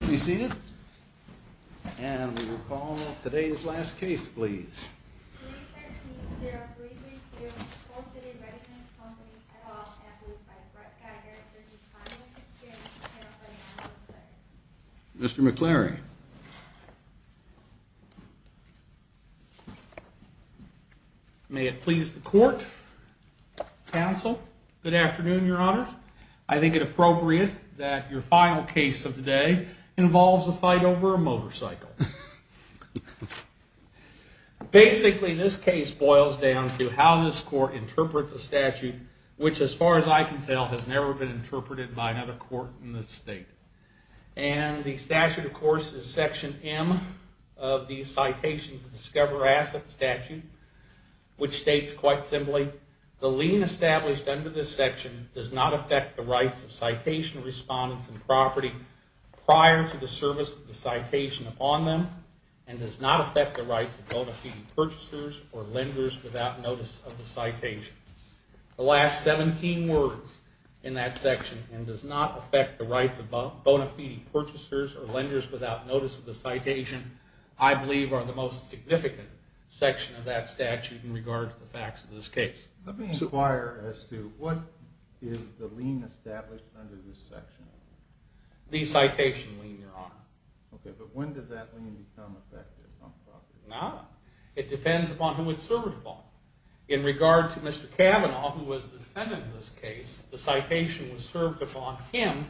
Be seated. And we will call today's last case, please. 313-0332, Coal City Redi-Mix Company, head office, approved by Brett Geiger v. Pontiac Exchange, Inc. Mr. McClary. May it please the Court, Counsel, good afternoon, Your Honor. I think it appropriate that your final case of the day involves a fight over a motorcycle. Basically, this case boils down to how this Court interprets the statute, which, as far as I can tell, has never been interpreted by another court in this State. And the statute, of course, is Section M of the Citation to Discover Asset Statute, which states quite simply, The lien established under this section does not affect the rights of citation respondents in property prior to the service of the citation upon them, and does not affect the rights of bona fide purchasers or lenders without notice of the citation. The last 17 words in that section, and does not affect the rights of bona fide purchasers or lenders without notice of the citation, I believe are the most significant section of that statute in regard to the facts of this case. Let me inquire as to what is the lien established under this section? The citation lien, Your Honor. Okay, but when does that lien become effective on property? Now, it depends upon who it's served upon. In regard to Mr. Kavanaugh, who was the defendant in this case, the citation was served upon him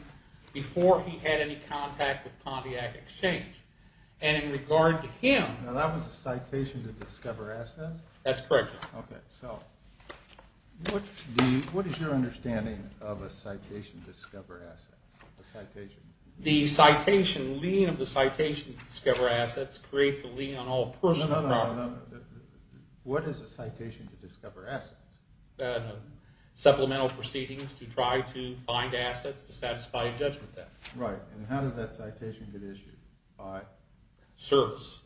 before he had any contact with Pontiac Exchange. And in regard to him... Now, that was a citation to discover assets? That's correct, Your Honor. Okay, so, what is your understanding of a citation to discover assets? A citation? The citation lien of the citation to discover assets creates a lien on all personal property. No, no, no, no, no. What is a citation to discover assets? Supplemental proceedings to try to find assets to satisfy a judgment then. Right, and how does that citation get issued? By service,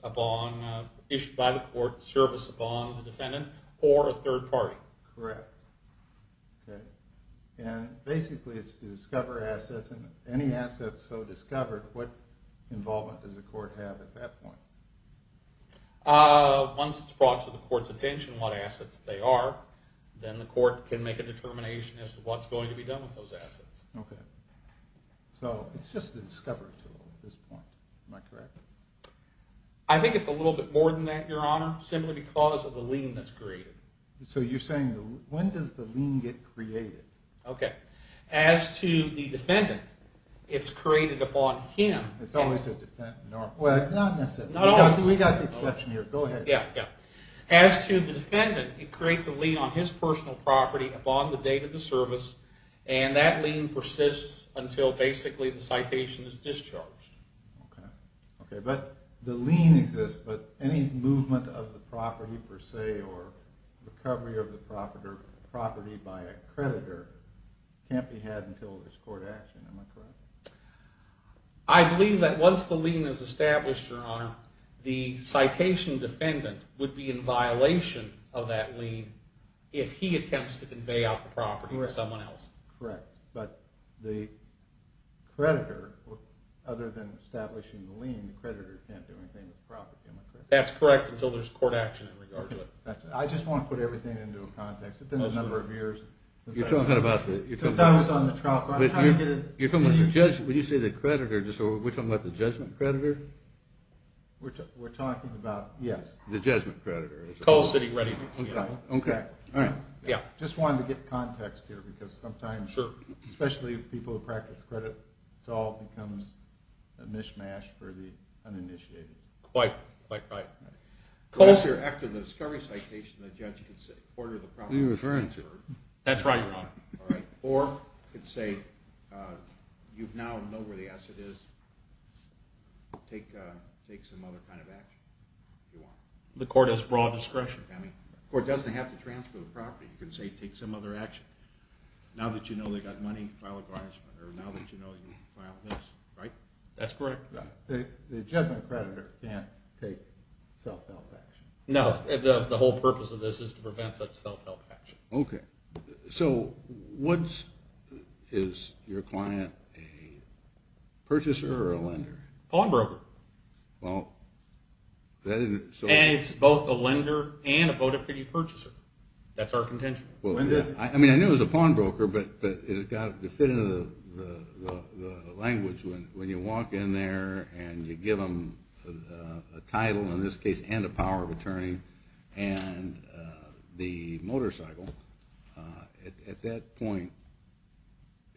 issued by the court, service upon the defendant or a third party. Correct. Okay, and basically it's to discover assets, and any assets so discovered, what involvement does the court have at that point? Once it's brought to the court's attention what assets they are, then the court can make a determination as to what's going to be done with those assets. Okay, so it's just a discovery tool at this point, am I correct? I think it's a little bit more than that, Your Honor, simply because of the lien that's created. So you're saying, when does the lien get created? Okay, as to the defendant, it's created upon him... It's always a defendant, well, not necessarily, we got the exception here, go ahead. Yeah, yeah. As to the defendant, it creates a lien on his personal property upon the date of the service, and that lien persists until basically the citation is discharged. Okay, but the lien exists, but any movement of the property per se, or recovery of the property by a creditor can't be had until there's court action, am I correct? I believe that once the lien is established, Your Honor, the citation defendant would be in violation of that lien if he attempts to convey out the property to someone else. Correct, but the creditor, other than establishing the lien, the creditor can't do anything with the property, am I correct? That's correct, until there's court action in regard to it. I just want to put everything into a context, it's been a number of years. You're talking about the... Since I was on the trial... You're talking about the judge, when you say the creditor, so we're talking about the judgment creditor? We're talking about... Yes, the judgment creditor. Okay, all right. I just wanted to get context here because sometimes, especially people who practice the credit, it all becomes a mishmash for the uninitiated. Quite, quite right. After the discovery citation, the judge can say, what are the properties... Who are you referring to? That's right, Your Honor. Or you can say, you now know where the asset is, take some other kind of action if you want. The court has broad discretion. The court doesn't have to transfer the property. You can say, take some other action. Now that you know they've got money, file a garnishment, or now that you know you can file this, right? That's correct, Your Honor. The judgment creditor can't take self-help action. No, the whole purpose of this is to prevent such self-help action. Okay, so what's... Is your client a purchaser or a lender? Pawnbroker. Well, that isn't... And it's both a lender and a bona fide purchaser. That's our contention. I mean, I knew it was a pawnbroker, but it's got to fit into the language when you walk in there and you give them a title, in this case, and a power of attorney, and the motorcycle. At that point,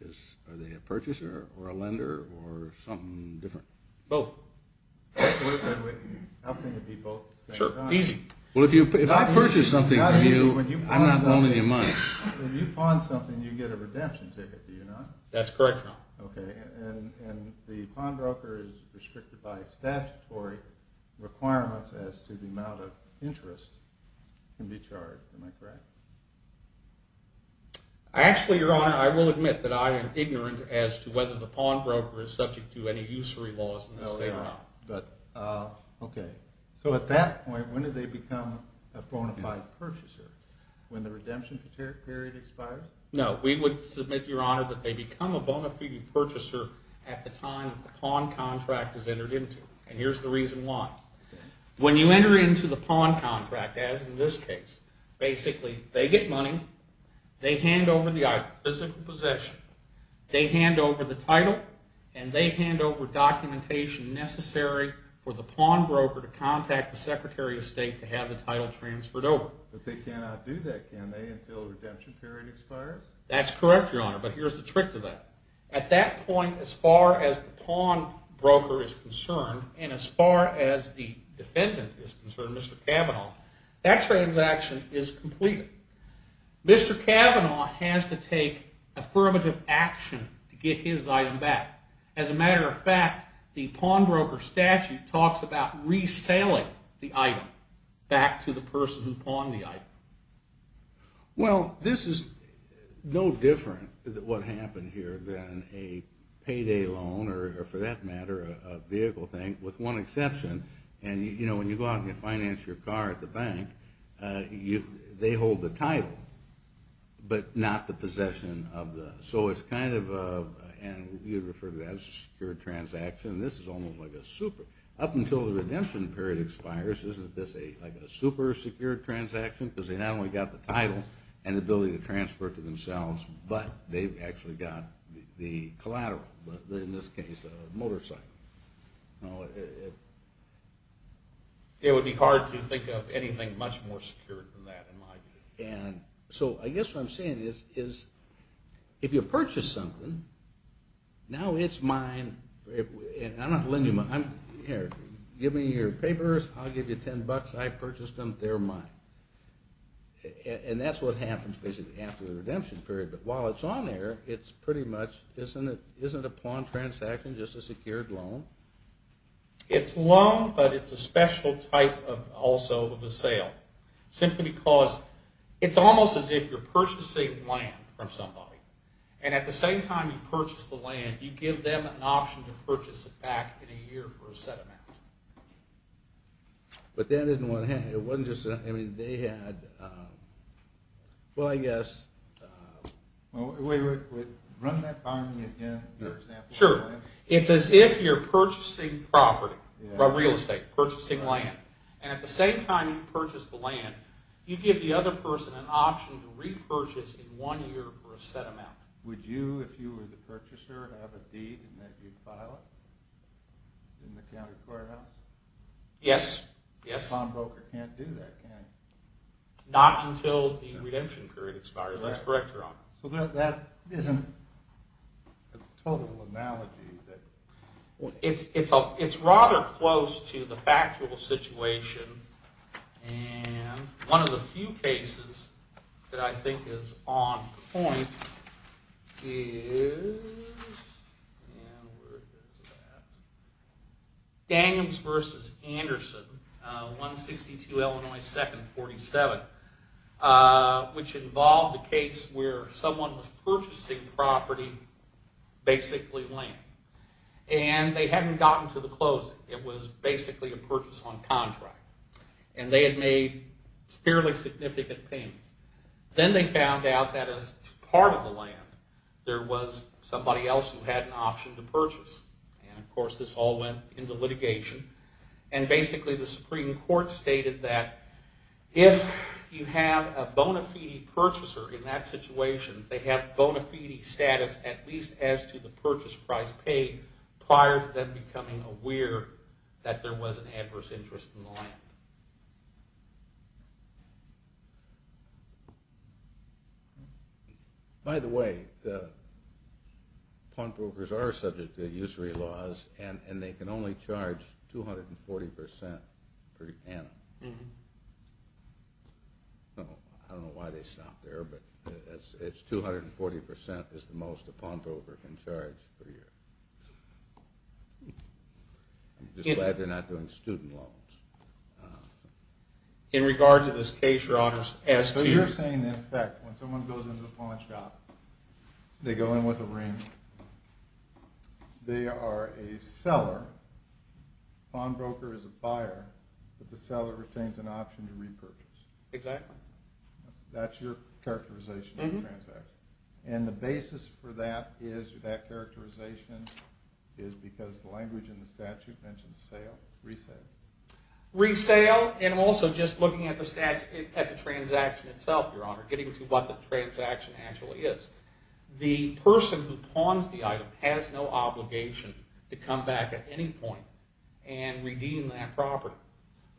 are they a purchaser or a lender or something different? Both. I think it'd be both at the same time. Sure, easy. Well, if I purchase something from you, I'm not owning your money. When you pawn something, you get a redemption ticket, do you not? That's correct, Your Honor. Okay, and the pawnbroker is restricted by statutory requirements as to the amount of interest can be charged. Am I correct? Actually, Your Honor, I will admit that I am ignorant as to whether the pawnbroker is subject to any usury laws in the state or not. Okay, so at that point, when do they become a bona fide purchaser? When the redemption period expires? No, we would submit, Your Honor, that they become a bona fide purchaser at the time that the pawn contract is entered into, and here's the reason why. When you enter into the pawn contract, as in this case, basically, they get money, they hand over the physical possession, they hand over the title, and they hand over documentation necessary for the pawnbroker to contact the Secretary of State to have the title transferred over. But they cannot do that, can they, until the redemption period expires? That's correct, Your Honor, but here's the trick to that. At that point, as far as the pawnbroker is concerned, and as far as the defendant is concerned, Mr. Cavanaugh, that transaction is completed. Mr. Cavanaugh has to take affirmative action to get his item back. As a matter of fact, the pawnbroker statute talks about resaling the item back to the person who pawned the item. Well, this is no different, what happened here, than a payday loan, or for that matter, a vehicle thing, with one exception, and, you know, when you go out and finance your car at the bank, they hold the title, but not the possession of the, so it's kind of a, and you refer to that as a secured transaction, and this is almost like a super, up until the redemption period expires, isn't this like a super secured transaction, because they not only got the title, and the ability to transfer it to themselves, but they've actually got the collateral, in this case, a motorcycle. You know, it would be hard to think of anything much more secured than that, in my view, and so I guess what I'm saying is, if you purchase something, now it's mine, and I'm not going to lend you money, here, give me your papers, I'll give you ten bucks, I purchased them, they're mine. And that's what happens, basically, after the redemption period, but while it's on there, it's pretty much, isn't a pawn transaction just a secured loan? It's a loan, but it's a special type of, also, of a sale, simply because it's almost as if you're purchasing land from somebody, and at the same time you purchase the land, you give them an option to purchase it back in a year for a set amount. But that isn't what, it wasn't just, I mean, they had, well, I guess, well, run that by me again. Sure, it's as if you're purchasing property, real estate, purchasing land, and at the same time you purchase the land, you give the other person an option to repurchase in one year for a set amount. Would you, if you were the purchaser, have a deed in that you'd file it, in the county courthouse? Yes, yes. A pawnbroker can't do that, can they? Not until the redemption period expires, that's correct, Your Honor. So that isn't a total analogy. It's rather close to the factual situation, and one of the few cases that I think is on point is, Daniums v. Anderson, 162 Illinois 2nd, 47, which involved a case where someone was purchasing property, basically land, and they hadn't gotten to the closing. It was basically a purchase on contract, and they had made fairly significant payments. Then they found out that as part of the land, there was somebody else who had an option to purchase, and of course this all went into litigation, and basically the Supreme Court stated that if you have a bona fide purchaser in that situation, they have bona fide status, at least as to the purchase price paid, prior to them becoming aware that there was an adverse interest in the land. By the way, pawnbrokers are subject to usury laws, and they can only charge 240% per year. I don't know why they stop there, but 240% is the most a pawnbroker can charge per year. I'm just glad they're not doing student loans. In regard to this case, Your Honor, as to... So you're saying that in fact, when someone goes into a pawnshop, they go in with a ring, they are a seller, a pawnbroker is a buyer, but the seller retains an option to repurchase. Exactly. That's your characterization of the transaction. And the basis for that is, that characterization is because the language in the statute mentions sale, resale. Resale, and also just looking at the transaction itself, Your Honor, getting to what the transaction actually is. The person who pawns the item has no obligation to come back at any point and redeem that property.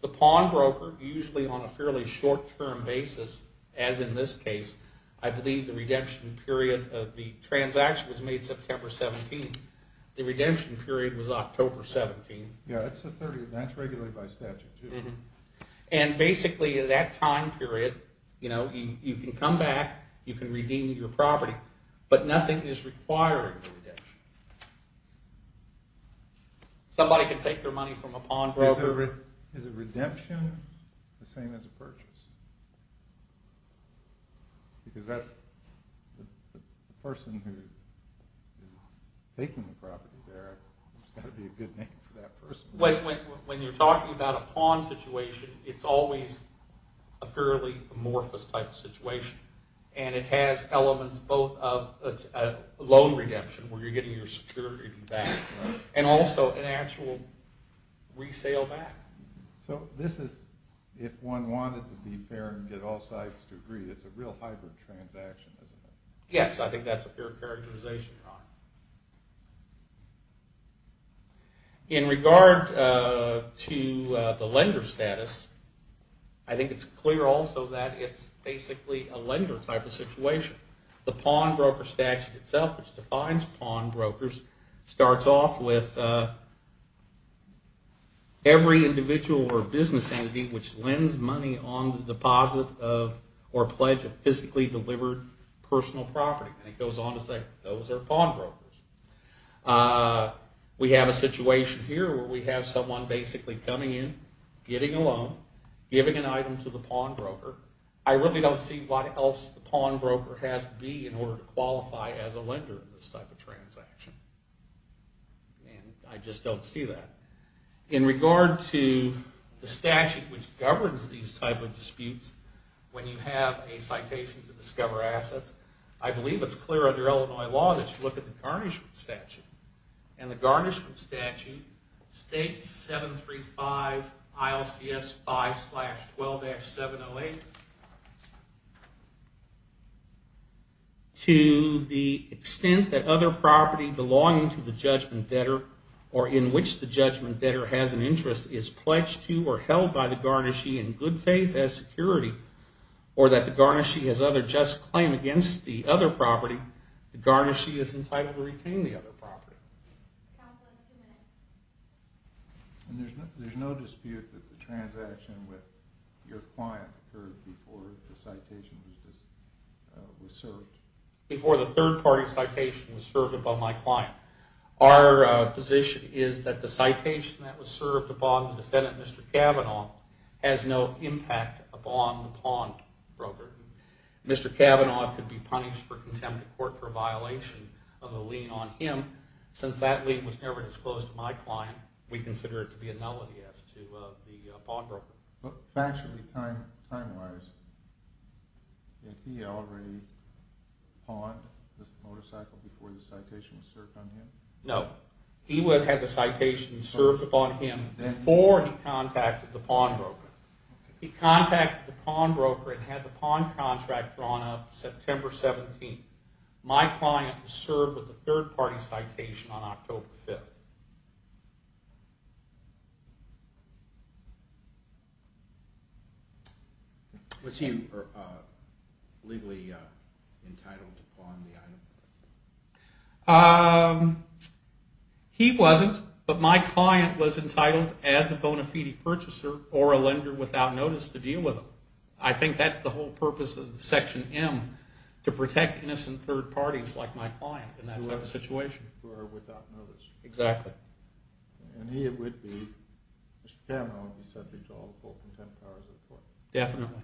The pawnbroker, usually on a fairly short-term basis, as in this case, I believe the redemption period of the transaction was made September 17th. The redemption period was October 17th. Yeah, that's regularly by statute too. And basically, that time period, you know, you can come back, you can redeem your property, but nothing is required for redemption. Somebody can take their money from a pawnbroker... Is a redemption the same as a purchase? Because that's the person who is taking the property there, there's got to be a good name for that person. When you're talking about a pawn situation, it's always a fairly amorphous type of situation, and it has elements both of loan redemption, where you're getting your security back, and also an actual resale back. So this is, if one wanted to be fair and get all sides to agree, it's a real hybrid transaction, isn't it? Yes, I think that's a fair characterization, Your Honor. In regard to the lender status, I think it's clear also that it's basically a lender type of situation. The pawnbroker statute itself, which defines pawnbrokers, starts off with every individual or business entity which lends money on the deposit of, or pledge of physically delivered personal property. And it goes on to say, those are pawnbrokers. We have a situation here where we have someone basically coming in, getting a loan, giving an item to the pawnbroker. I really don't see what else the pawnbroker has to be in order to qualify as a lender in this type of transaction. I just don't see that. In regard to the statute which governs these type of disputes, when you have a citation to discover assets, I believe it's clear under Illinois law that you look at the garnishment statute. And the garnishment statute states 735 ILCS 5 slash 12-708 to the extent that other property belonging to the judgment debtor, or in which the judgment debtor has an interest, is pledged to or held by the garnishee in good faith as security, or that the garnishee has other just claim against the other property, the garnishee is entitled to retain the other property. And there's no dispute that the transaction with your client occurred before the citation was served? Before the third party citation was served above my client. Our position is that the citation that was served upon the defendant, Mr. Cavanaugh, has no impact upon the pawnbroker. Mr. Cavanaugh could be punished for contempt of court for a violation of the lien on him. Since that lien was never disclosed to my client, we consider it to be a nullity as to the pawnbroker. But factually, time-wise, if he already pawned this motorcycle before the citation was served on him? No. He would have had the citation served upon him before he contacted the pawnbroker. He contacted the pawnbroker and had the pawn contract drawn up September 17th. My client was served with a third party citation on October 5th. Was he legally entitled to pawn the item? He wasn't, but my client was entitled as a bona fide purchaser or a lender without notice to deal with him. I think that's the whole purpose of Section M, to protect innocent third parties like my client in that type of situation. Who are without notice. Exactly. Mr. Cavanaugh would be subject to all full contempt of court. Definitely.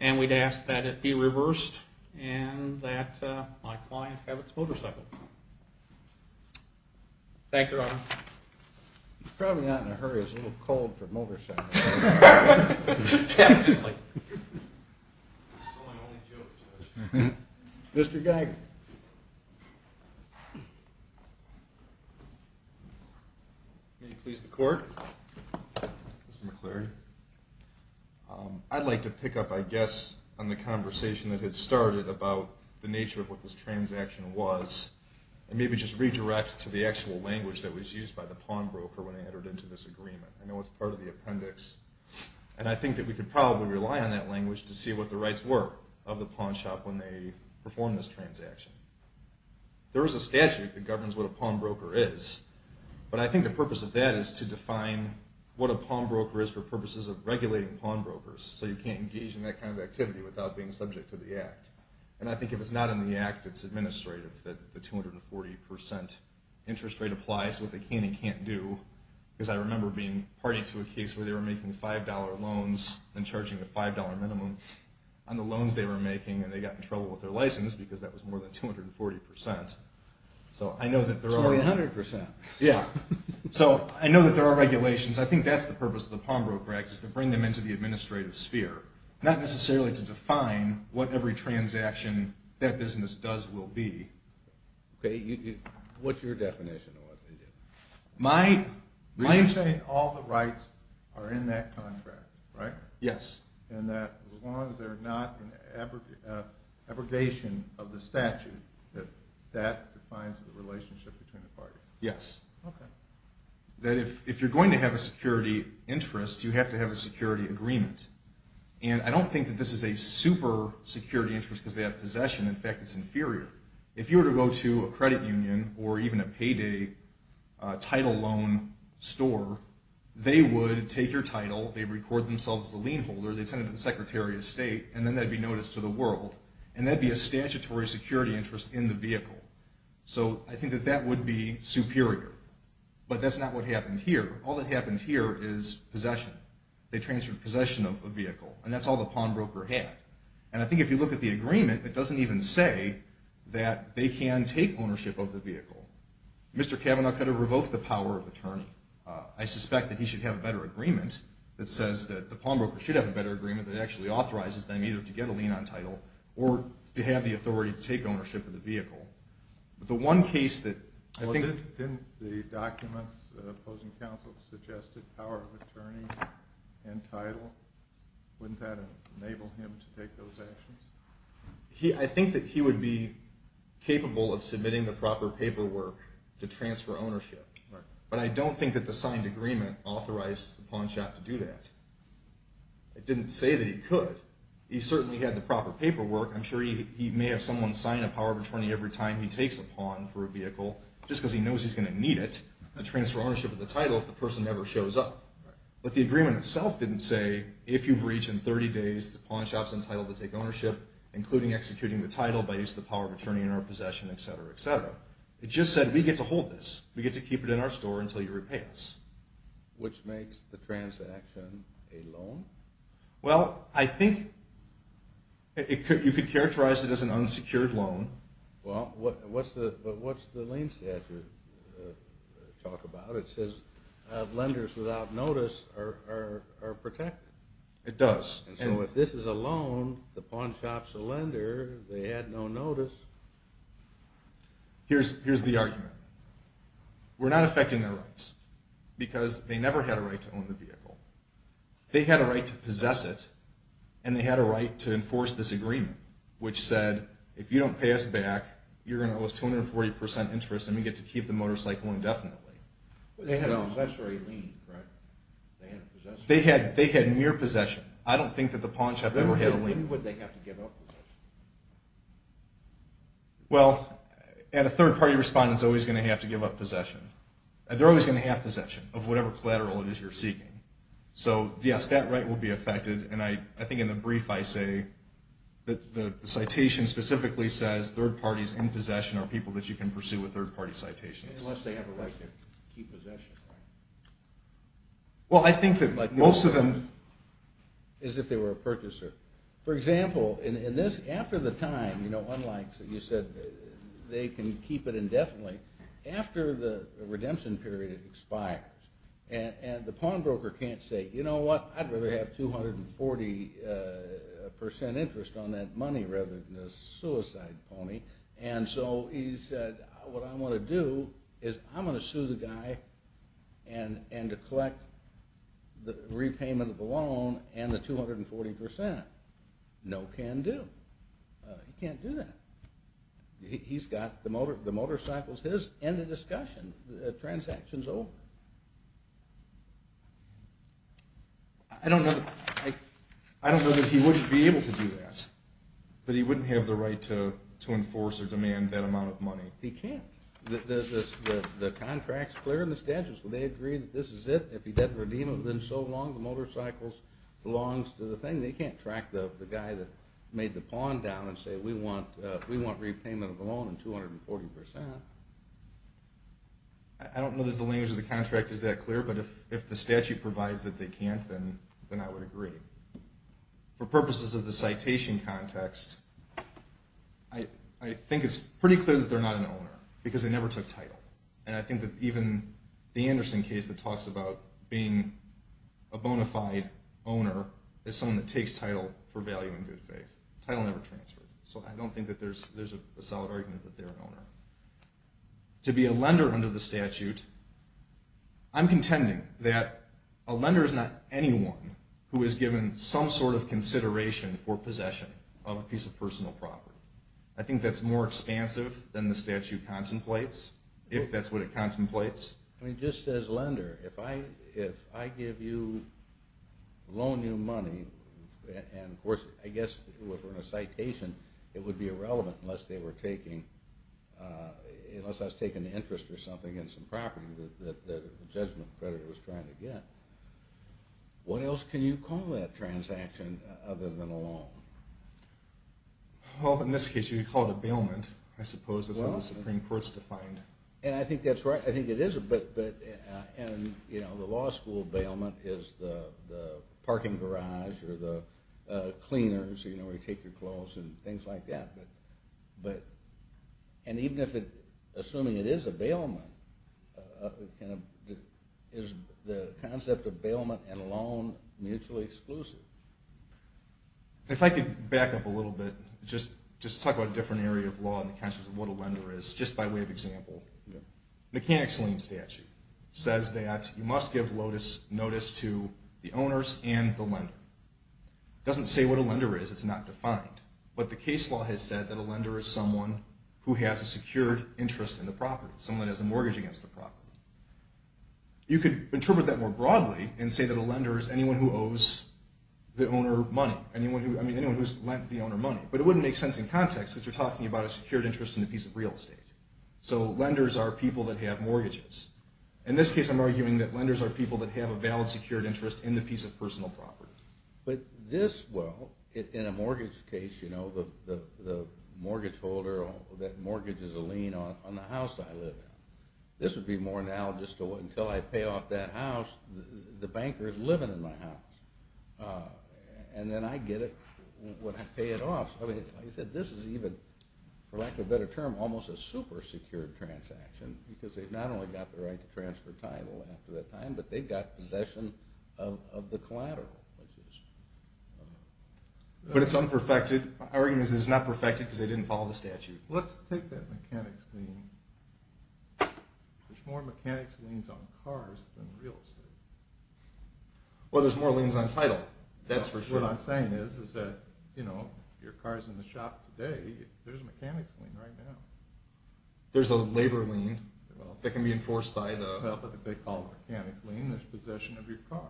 And we'd ask that it be reversed and that my client have its motorcycle. Thank you, Your Honor. He's probably not in a hurry. He's a little cold for a motorcycle. Mr. Geiger. May it please the Court. Mr. McCleary. I'd like to pick up, I guess, on the conversation that had started about the nature of what this transaction was and maybe just redirect to the actual language that was used by the pawnbroker when they entered into this agreement. I know it's part of the appendix, and I think that we could probably rely on that language to see what the rights were of the pawnshop when they performed this transaction. There is a statute that governs what a pawnbroker is, but I think the purpose of that is to define what a pawnbroker is for purposes of regulating pawnbrokers, so you can't engage in that kind of activity without being subject to the Act. And I think if it's not in the Act, it's administrative that the 240% interest rate applies to what they can and can't do, because I remember being party to a case where they were making $5 loans and charging a $5 minimum on the loans they were making, and they got in trouble with their license because that was more than 240%. So I know that there are... $2,100%. Yeah. So I know that there are regulations. I think that's the purpose of the pawnbroker Act, is to bring them into the administrative sphere, not necessarily to define what every transaction that business does will be. Okay. What's your definition of what they did? My... You're saying all the rights are in that contract, right? Yes. And that as long as they're not an abrogation of the statute, that that defines the relationship between the parties. Yes. Okay. That if you're going to have a security interest, you have to have a security agreement. And I don't think that this is a super security interest because they have something that's inferior. If you were to go to a credit union or even a payday title loan store, they would take your title, they'd record themselves as the lien holder, they'd send it to the Secretary of State, and then that'd be noticed to the world. And that'd be a statutory security interest in the vehicle. So I think that that would be superior. But that's not what happened here. All that happened here is possession. They transferred possession of a vehicle. And that's all the pawnbroker had. And I think if you look at the agreement, it doesn't even say that they can take ownership of the vehicle. Mr. Kavanaugh could have revoked the power of attorney. I suspect that he should have a better agreement that says that the pawnbroker should have a better agreement that actually authorizes them either to get a lien on title or to have the authority to take ownership of the vehicle. But the one case that I think... Well, didn't the documents that the opposing counsel suggested, power of attorney and title, wouldn't that enable him to take those actions? I think that he would be capable of submitting the proper paperwork to transfer ownership. But I don't think that the signed agreement authorized the pawn shop to do that. It didn't say that he could. He certainly had the proper paperwork. I'm sure he may have someone sign a power of attorney every time he takes a pawn for a vehicle, just because he knows he's going to need it to transfer ownership of the title if the person never shows up. But the agreement itself didn't say, if you breach in 30 days, the pawn shop's entitled to take ownership, including executing the title by use of the power of attorney in our possession, etc., etc. It just said, we get to hold this. We get to keep it in our store until you repay us. Which makes the transaction a loan? Well, I think you could characterize it as an unsecured loan. But what's the lien statute talk about? It says lenders without notice are protected. It does. And so if this is a loan, the pawn shop's a lender, they had no notice. Here's the argument. We're not affecting their rights, because they never had a right to own the vehicle. They had a right to possess it, and they had a right to enforce this agreement, which said, if you don't pay us back, you're going to owe us 240% interest, and we get to keep the motorcycle indefinitely. They had a possessory lien, right? They had mere possession. I don't think that the pawn shop ever had a lien. When would they have to give up possession? Well, a third-party respondent's always going to have to give up possession. They're always going to have possession of whatever collateral it is you're seeking. So, yes, that right will be affected, and I think in the brief I say that the citation specifically says third parties in possession are people that you can pursue with third-party citations. Well, I think that most of them is if they were a purchaser. For example, after the time, unlike you said they can keep it indefinitely, after the redemption period expires, and the pawnbroker can't say, you know what, I'd rather have 240% interest on that money rather than a loan. So he said, what I'm going to do is I'm going to sue the guy and collect the repayment of the loan and the 240%. No can do. He can't do that. He's got the motorcycles his, end of discussion. The transaction's over. I don't know that he wouldn't be able to do that, but he wouldn't have the right to enforce or demand that amount of money. He can't. The contract's clear and the statute's clear. They agree that this is it. If he doesn't redeem it within so long, the motorcycles belongs to the thing. They can't track the guy that made the pawn down and say we want repayment of the loan and 240%. I don't know that the language of the contract is that clear, but if the statute provides that they can't then I would agree. For purposes of the citation context, I think it's pretty clear that they're not an owner because they never took title. And I think that even the Anderson case that talks about being a bona fide owner is someone that takes title for value and good faith. Title never transferred. So I don't think that there's a solid argument that they're an owner. To be a lender under the statute, I'm contending that a lender is not anyone who has given some sort of consideration for possession of a piece of personal property. I think that's more expansive than the statute contemplates, if that's what it contemplates. I mean, just as lender, if I give you, loan you money, and of course I guess if it were in a citation, it would be irrelevant unless they were taking interest or something in some property that the judgment creditor was trying to get. What else can you call that transaction other than a loan? Well, in this case, you could call it a bailment. I suppose that's how the Supreme Court's defined. And I think that's right. I think it is, but the law school bailment is the parking garage or the cleaners where you take your clothes and things like that. And even if it, assuming it is a bailment, is the concept of bailment and loan mutually exclusive? If I could back up a little bit, just talk about a different area of law in the context of what a lender is, just by way of example. The mechanics lien statute says that you must give notice to the owners and the lender. It doesn't say what a lender is. It's not defined. But the case law has said that a lender is someone who has a secured interest in the property, someone who has a mortgage against the property. You could interpret that more broadly and say that a lender is anyone who owes the owner money. I mean, anyone who's lent the owner money. But it wouldn't make sense in context if you're talking about a secured interest in a piece of real estate. So lenders are people that have mortgages. In this case, I'm arguing that lenders are people that have a valid secured interest in the piece of personal property. But this, well, in a mortgage case, you know, the mortgage holder that mortgages a lien on the house I live in. This would be more analogous to until I pay off that house, the banker is living in my house. And then I get it when I pay it off. I mean, like I said, this is even, for lack of a better term, almost a super-secured transaction because they've not only got the right to transfer title after that time, but they've got possession of the collateral. But it's unperfected. My argument is it's not perfected because they didn't follow the statute. Let's take that mechanics lien. There's more mechanics liens on cars than real estate. Well, there's more liens on title. That's for sure. What I'm saying is that, you know, if your car's in the shop today, there's a mechanics lien right now. There's a labor lien that can be enforced by the, what they call a mechanics lien. There's possession of your car.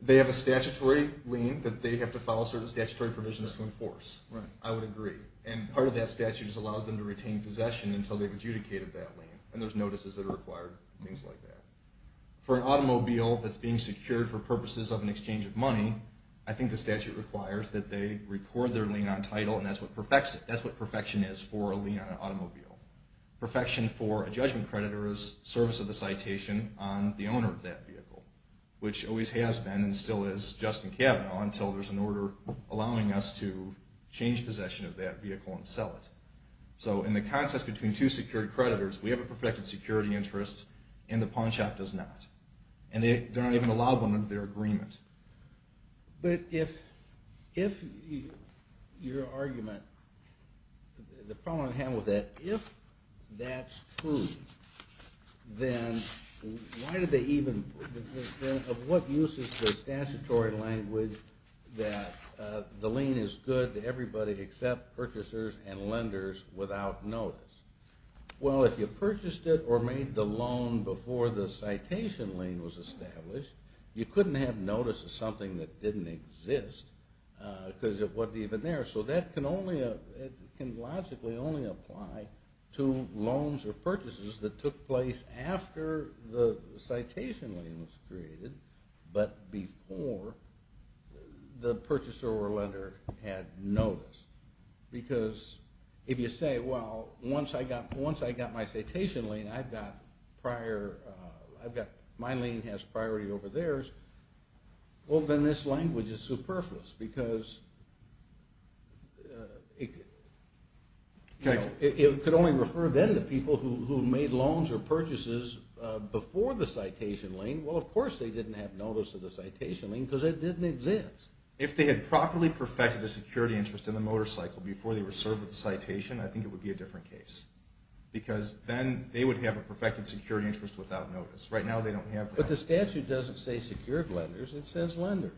They have a statutory lien that they have to follow certain statutory provisions to enforce. I would agree. And part of that statute just allows them to retain possession until they've adjudicated that lien. And there's notices that are required, things like that. For an automobile that's being secured for purposes of an exchange of money, I think the statute requires that they record their lien on title, and that's what perfection is for a lien on an automobile. Perfection for a judgment creditor is service of the citation on the owner of that vehicle, which always has been and still is Justin Kavanaugh until there's an order allowing us to change possession of that vehicle and sell it. So in the context between two security creditors, we have a perfected security interest and the pawn shop does not. And they're not even allowed one under their agreement. But if your argument, the problem I have with that, if that's true, then why what use is the statutory language that the lien is good to everybody except purchasers and lenders without notice? Well, if you purchased it or made the loan before the citation lien was established, you couldn't have notice of something that didn't exist because it wasn't even there. So that can logically only apply to loans or purchases that took place after the but before the purchaser or lender had notice. Because if you say, well once I got my citation lien, I've got prior my lien has priority over theirs, well then this language is superfluous because it could only refer then to people who made loans or purchases before the citation lien because it didn't exist. If they had properly perfected the security interest in the motorcycle before they were served with the citation, I think it would be a different case. Because then they would have a perfected security interest without notice. Right now they don't have that. But the statute doesn't say secured lenders, it says lenders.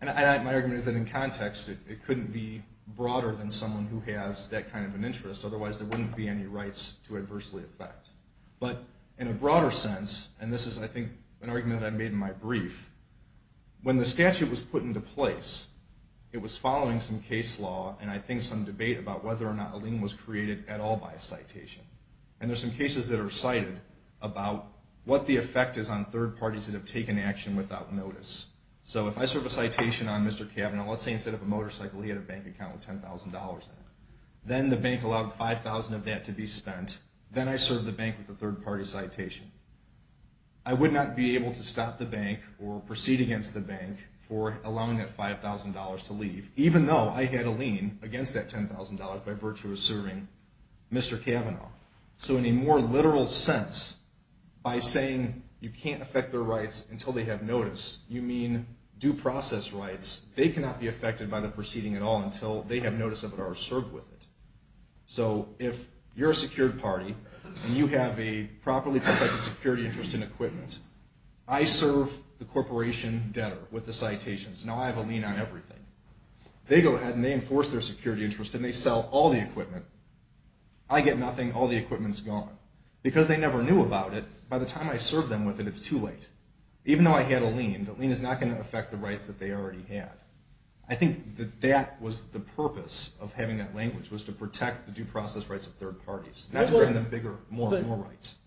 And my argument is that in context it couldn't be broader than someone who has that kind of an interest. Otherwise there wouldn't be any rights to adversely affect. But in a broader sense, and this is I think an argument that I made in my brief, when the statute was put into place, it was following some case law and I think some debate about whether or not a lien was created at all by a citation. And there's some cases that are cited about what the effect is on third parties that have taken action without notice. So if I serve a citation on Mr. Kavanaugh, let's say instead of a motorcycle he had a bank account with $10,000 in it. Then the bank allowed $5,000 of that to be spent. Then I served the bank with a third party citation. I would not be able to stop the bank or proceed against the bank for allowing that $5,000 to leave, even though I had a lien against that $10,000 by virtue of serving Mr. Kavanaugh. So in a more literal sense, by saying you can't affect their rights until they have notice, you mean due process rights, they cannot be affected by the proceeding at all until they have notice of it or served with it. So if you're a secured party and you have a properly protected security interest in equipment, I serve the corporation debtor with the citations. Now I have a lien on everything. They go ahead and they enforce their security interest and they sell all the equipment. I get nothing. All the equipment's gone. Because they never knew about it, by the time I serve them with it, it's too late. Even though I had a lien, the lien is not going to affect the rights that they already had. I think that that was the purpose of having that language was to protect the due process rights of third parties.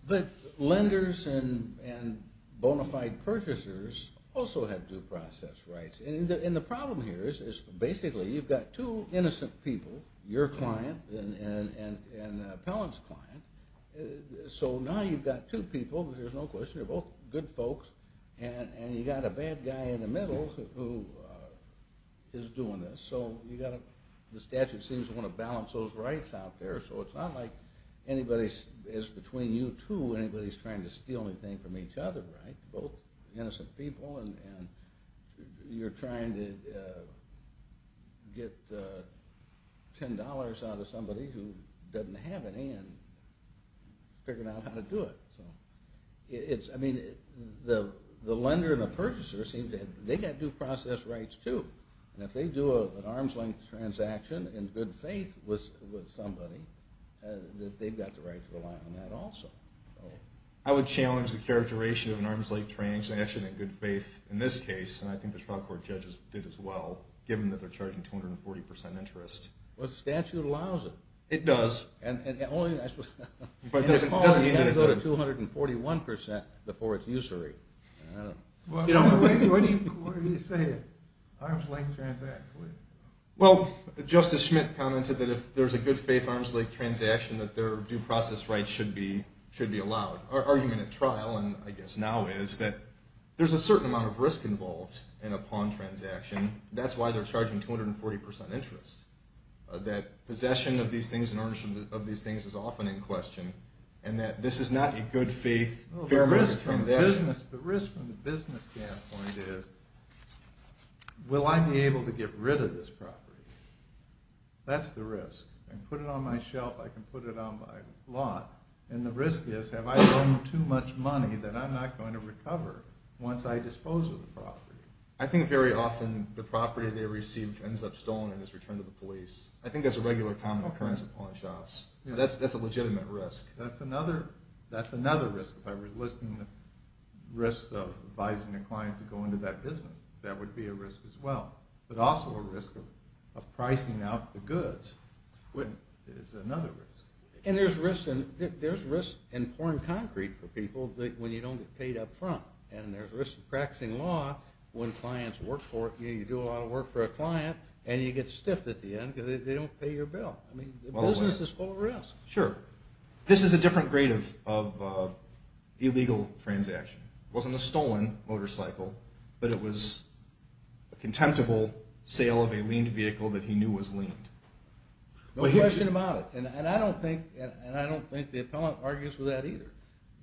But lenders and bona fide purchasers also have due process rights. And the problem here is basically you've got two innocent people, your client and Appellant's client, so now you've got two people, there's no question, they're both good folks, and you've got a bad guy in the middle who is doing this. So the statute seems to want to balance those rights out there, so it's not like anybody is between you two, anybody's trying to steal anything from each other, right? Both innocent people and you're trying to get $10 out of somebody who doesn't have any and figure out how to do it. The lender and the purchaser, they've got due process rights too. And if they do an arm's length transaction in good faith with somebody, they've got the right to rely on that also. I would challenge the characterization of an arm's length transaction in good faith in this case, and I think the trial court judges did as well, given that they're charging 240% interest. But the statute allows it. It does. It has to go to 241% before it's usury. Why do you say arm's length transaction? Well, Justice Schmidt commented that if there's a good faith arm's length transaction, that their due process rights should be allowed. Our argument at trial, and I guess now is, that there's a certain amount of risk involved in a pawn transaction. That's why they're charging 240% interest. That possession of these things and ownership of these things is often in question, and that this is not a good faith fair market transaction. The risk from the business standpoint is, will I be able to get rid of this property? That's the risk. I can put it on my shelf, I can put it on my lot, and the risk is, have I loaned too much money that I'm not going to recover once I dispose of the property? I think very often the property they receive ends up stolen and is returned to the police. I think that's a regular common occurrence at pawn shops. That's a legitimate risk. That's another risk. If I were listing the risks of advising a client to go into that business, that would be a risk as well. But also a risk of pricing out the goods is another risk. And there's risks in pawn concrete for people when you don't get paid up front. And there's risks in practicing law when clients work for it. You do a lot of work for a client and you get stiffed at the end because they don't pay your bill. The business is full of risks. Sure. This is a different grade of illegal transaction. It wasn't a stolen motorcycle, but it was a contemptible sale of a leaned vehicle that he knew was leaned. No question about it. And I don't think the appellant argues with that either.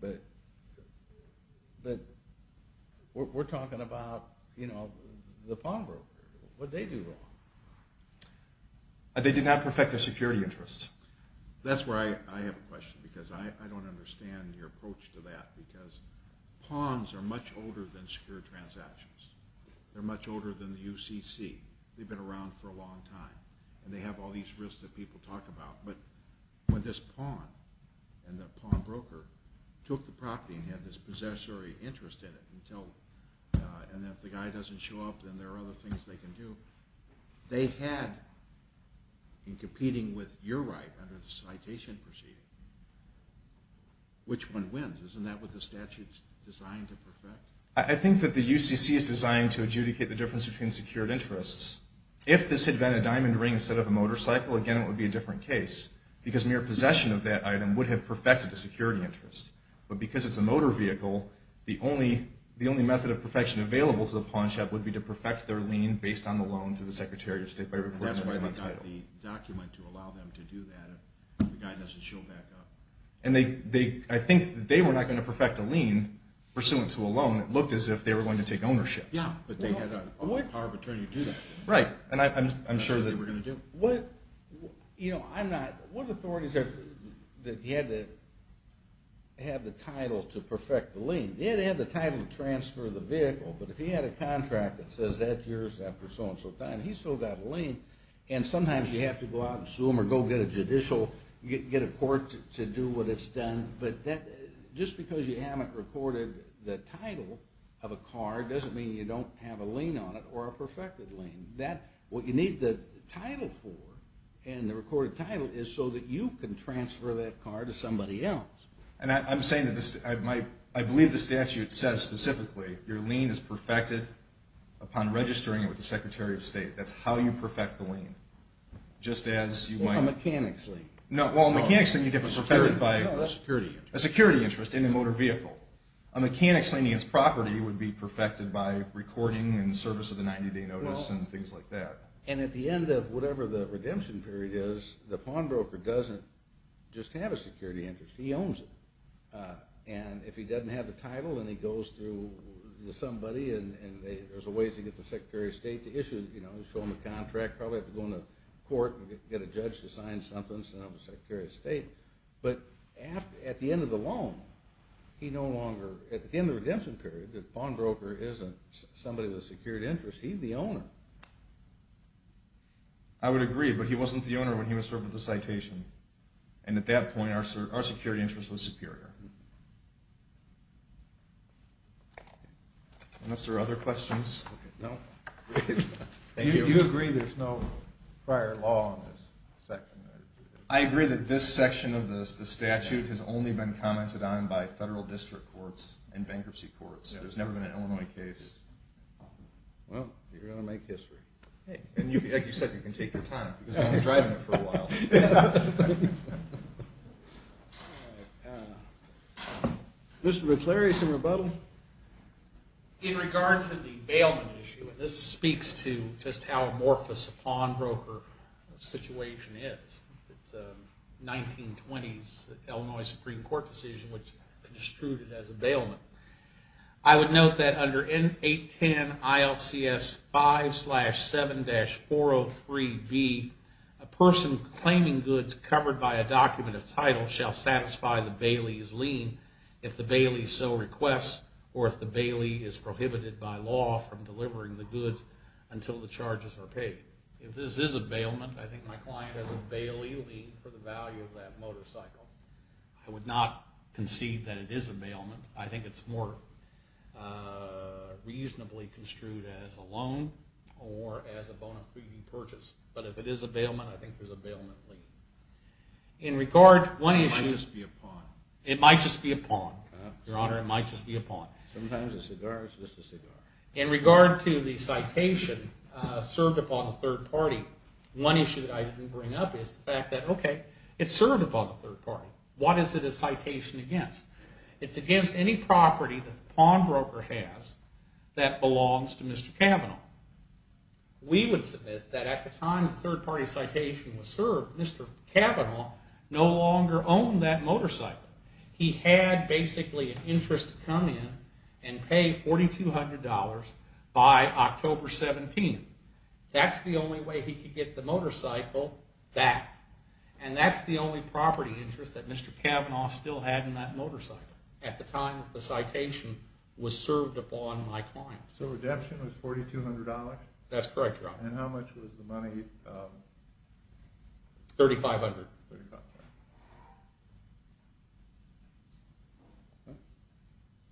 But we're talking about the pawn group. What'd they do wrong? They did not perfect their security interests. That's where I have a question because I don't understand your approach to that because pawns are much older than secure transactions. They're much older than the UCC. They've been around for a long time. And they have all these risks that people talk about. But when this pawn and the pawn broker took the property and had this possessory interest in it, and if the guy doesn't show up and there are other things they can do, they had in competing with your right under the citation proceeding, which one wins? Isn't that what the statute's designed to perfect? I think that the UCC is designed to adjudicate the difference between secured interests. If this had been a diamond ring instead of a motorcycle, again it would be a different case because mere possession of that item would have perfected the security interest. But because it's a motor vehicle, the only method of perfecting their lien based on the loan to the Secretary of State by recording their loan title. That's why they've got the document to allow them to do that if the guy doesn't show back up. And I think they were not going to perfect a lien pursuant to a loan. It looked as if they were going to take ownership. Yeah, but they had a power of attorney to do that. Right. What authorities have the title to perfect the lien? Yeah, they have the title to transfer the contract that says that's yours after so and so time. He's still got a lien and sometimes you have to go out and sue him or go get a judicial, get a court to do what it's done. But just because you haven't recorded the title of a car doesn't mean you don't have a lien on it or a perfected lien. What you need the title for and the recorded title is so that you can transfer that car to somebody else. And I'm saying that I believe the statute says specifically your lien is perfected upon registering it with the Secretary of State. That's how you perfect the lien. A mechanic's lien. No, a mechanic's lien you get perfected by a security interest in a motor vehicle. A mechanic's lien against property would be perfected by recording in service of the 90 day notice and things like that. And at the end of whatever the redemption period is, the pawnbroker doesn't just have a security interest. He owns it. And if he doesn't have the title and he goes through with somebody and there's a way to get the Secretary of State to issue, you know, show him the contract probably have to go into court and get a judge to sign something, sign up with the Secretary of State. But at the end of the loan, he no longer, at the end of the redemption period, the pawnbroker isn't somebody with a security interest. He's the owner. I would agree, but he wasn't the owner when he was served with the citation. And at that point our security interest was superior. Unless there are other questions. You agree there's no prior law on this section? I agree that this section of the statute has only been commented on by federal district courts and bankruptcy courts. There's never been an Illinois case. Well, you're going to make history. And like you said, you can take your time because no one's driving you for a while. All right. Mr. McClary, some rebuttal? In regard to the bailment issue, and this speaks to just how amorphous a pawnbroker situation is. It's a 1920s Illinois Supreme Court decision which construed it as a bailment. I would note that under 810 ILCS 5-7-403b a person claiming goods covered by a document of title shall satisfy the bailee's lien if the bailee so requests or if the bailee is prohibited by law from delivering the goods until the charges are paid. If this is a bailment, I think my client has a bailee lien for the value of that motorcycle. I would not concede that it is a bailment. I think it's more reasonably construed as a loan or as a loan of pre-purchase. But if it is a bailment, I think there's a bailment lien. It might just be a pawn. Your Honor, it might just be a pawn. Sometimes a cigar is just a cigar. In regard to the citation served upon a third party, one issue that I didn't bring up is the fact that, okay, it's served upon a third party. What is it a citation against? It's against any property that the pawnbroker has that belongs to Mr. Cavanaugh. We would submit that at the time the third party citation was served, Mr. Cavanaugh no longer owned that motorcycle. He had basically an interest to come in and pay $4,200 by October 17th. That's the only way he could get the motorcycle back. And that's the only property interest that Mr. Cavanaugh still had in that motorcycle at the time that the citation was served upon my client. So redemption was $4,200? That's correct, Your Honor. And how much was the money? $3,500.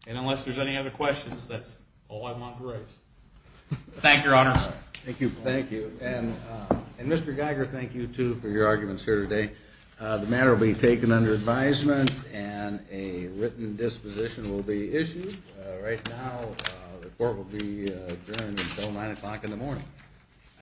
And unless there's any other questions, that's all I wanted to raise. Thank you, Your Honor. Thank you. And Mr. Geiger, thank you too for your arguments here today. The matter will be taken under advisement and a written disposition will be The court will adjourn until 9 o'clock in the morning.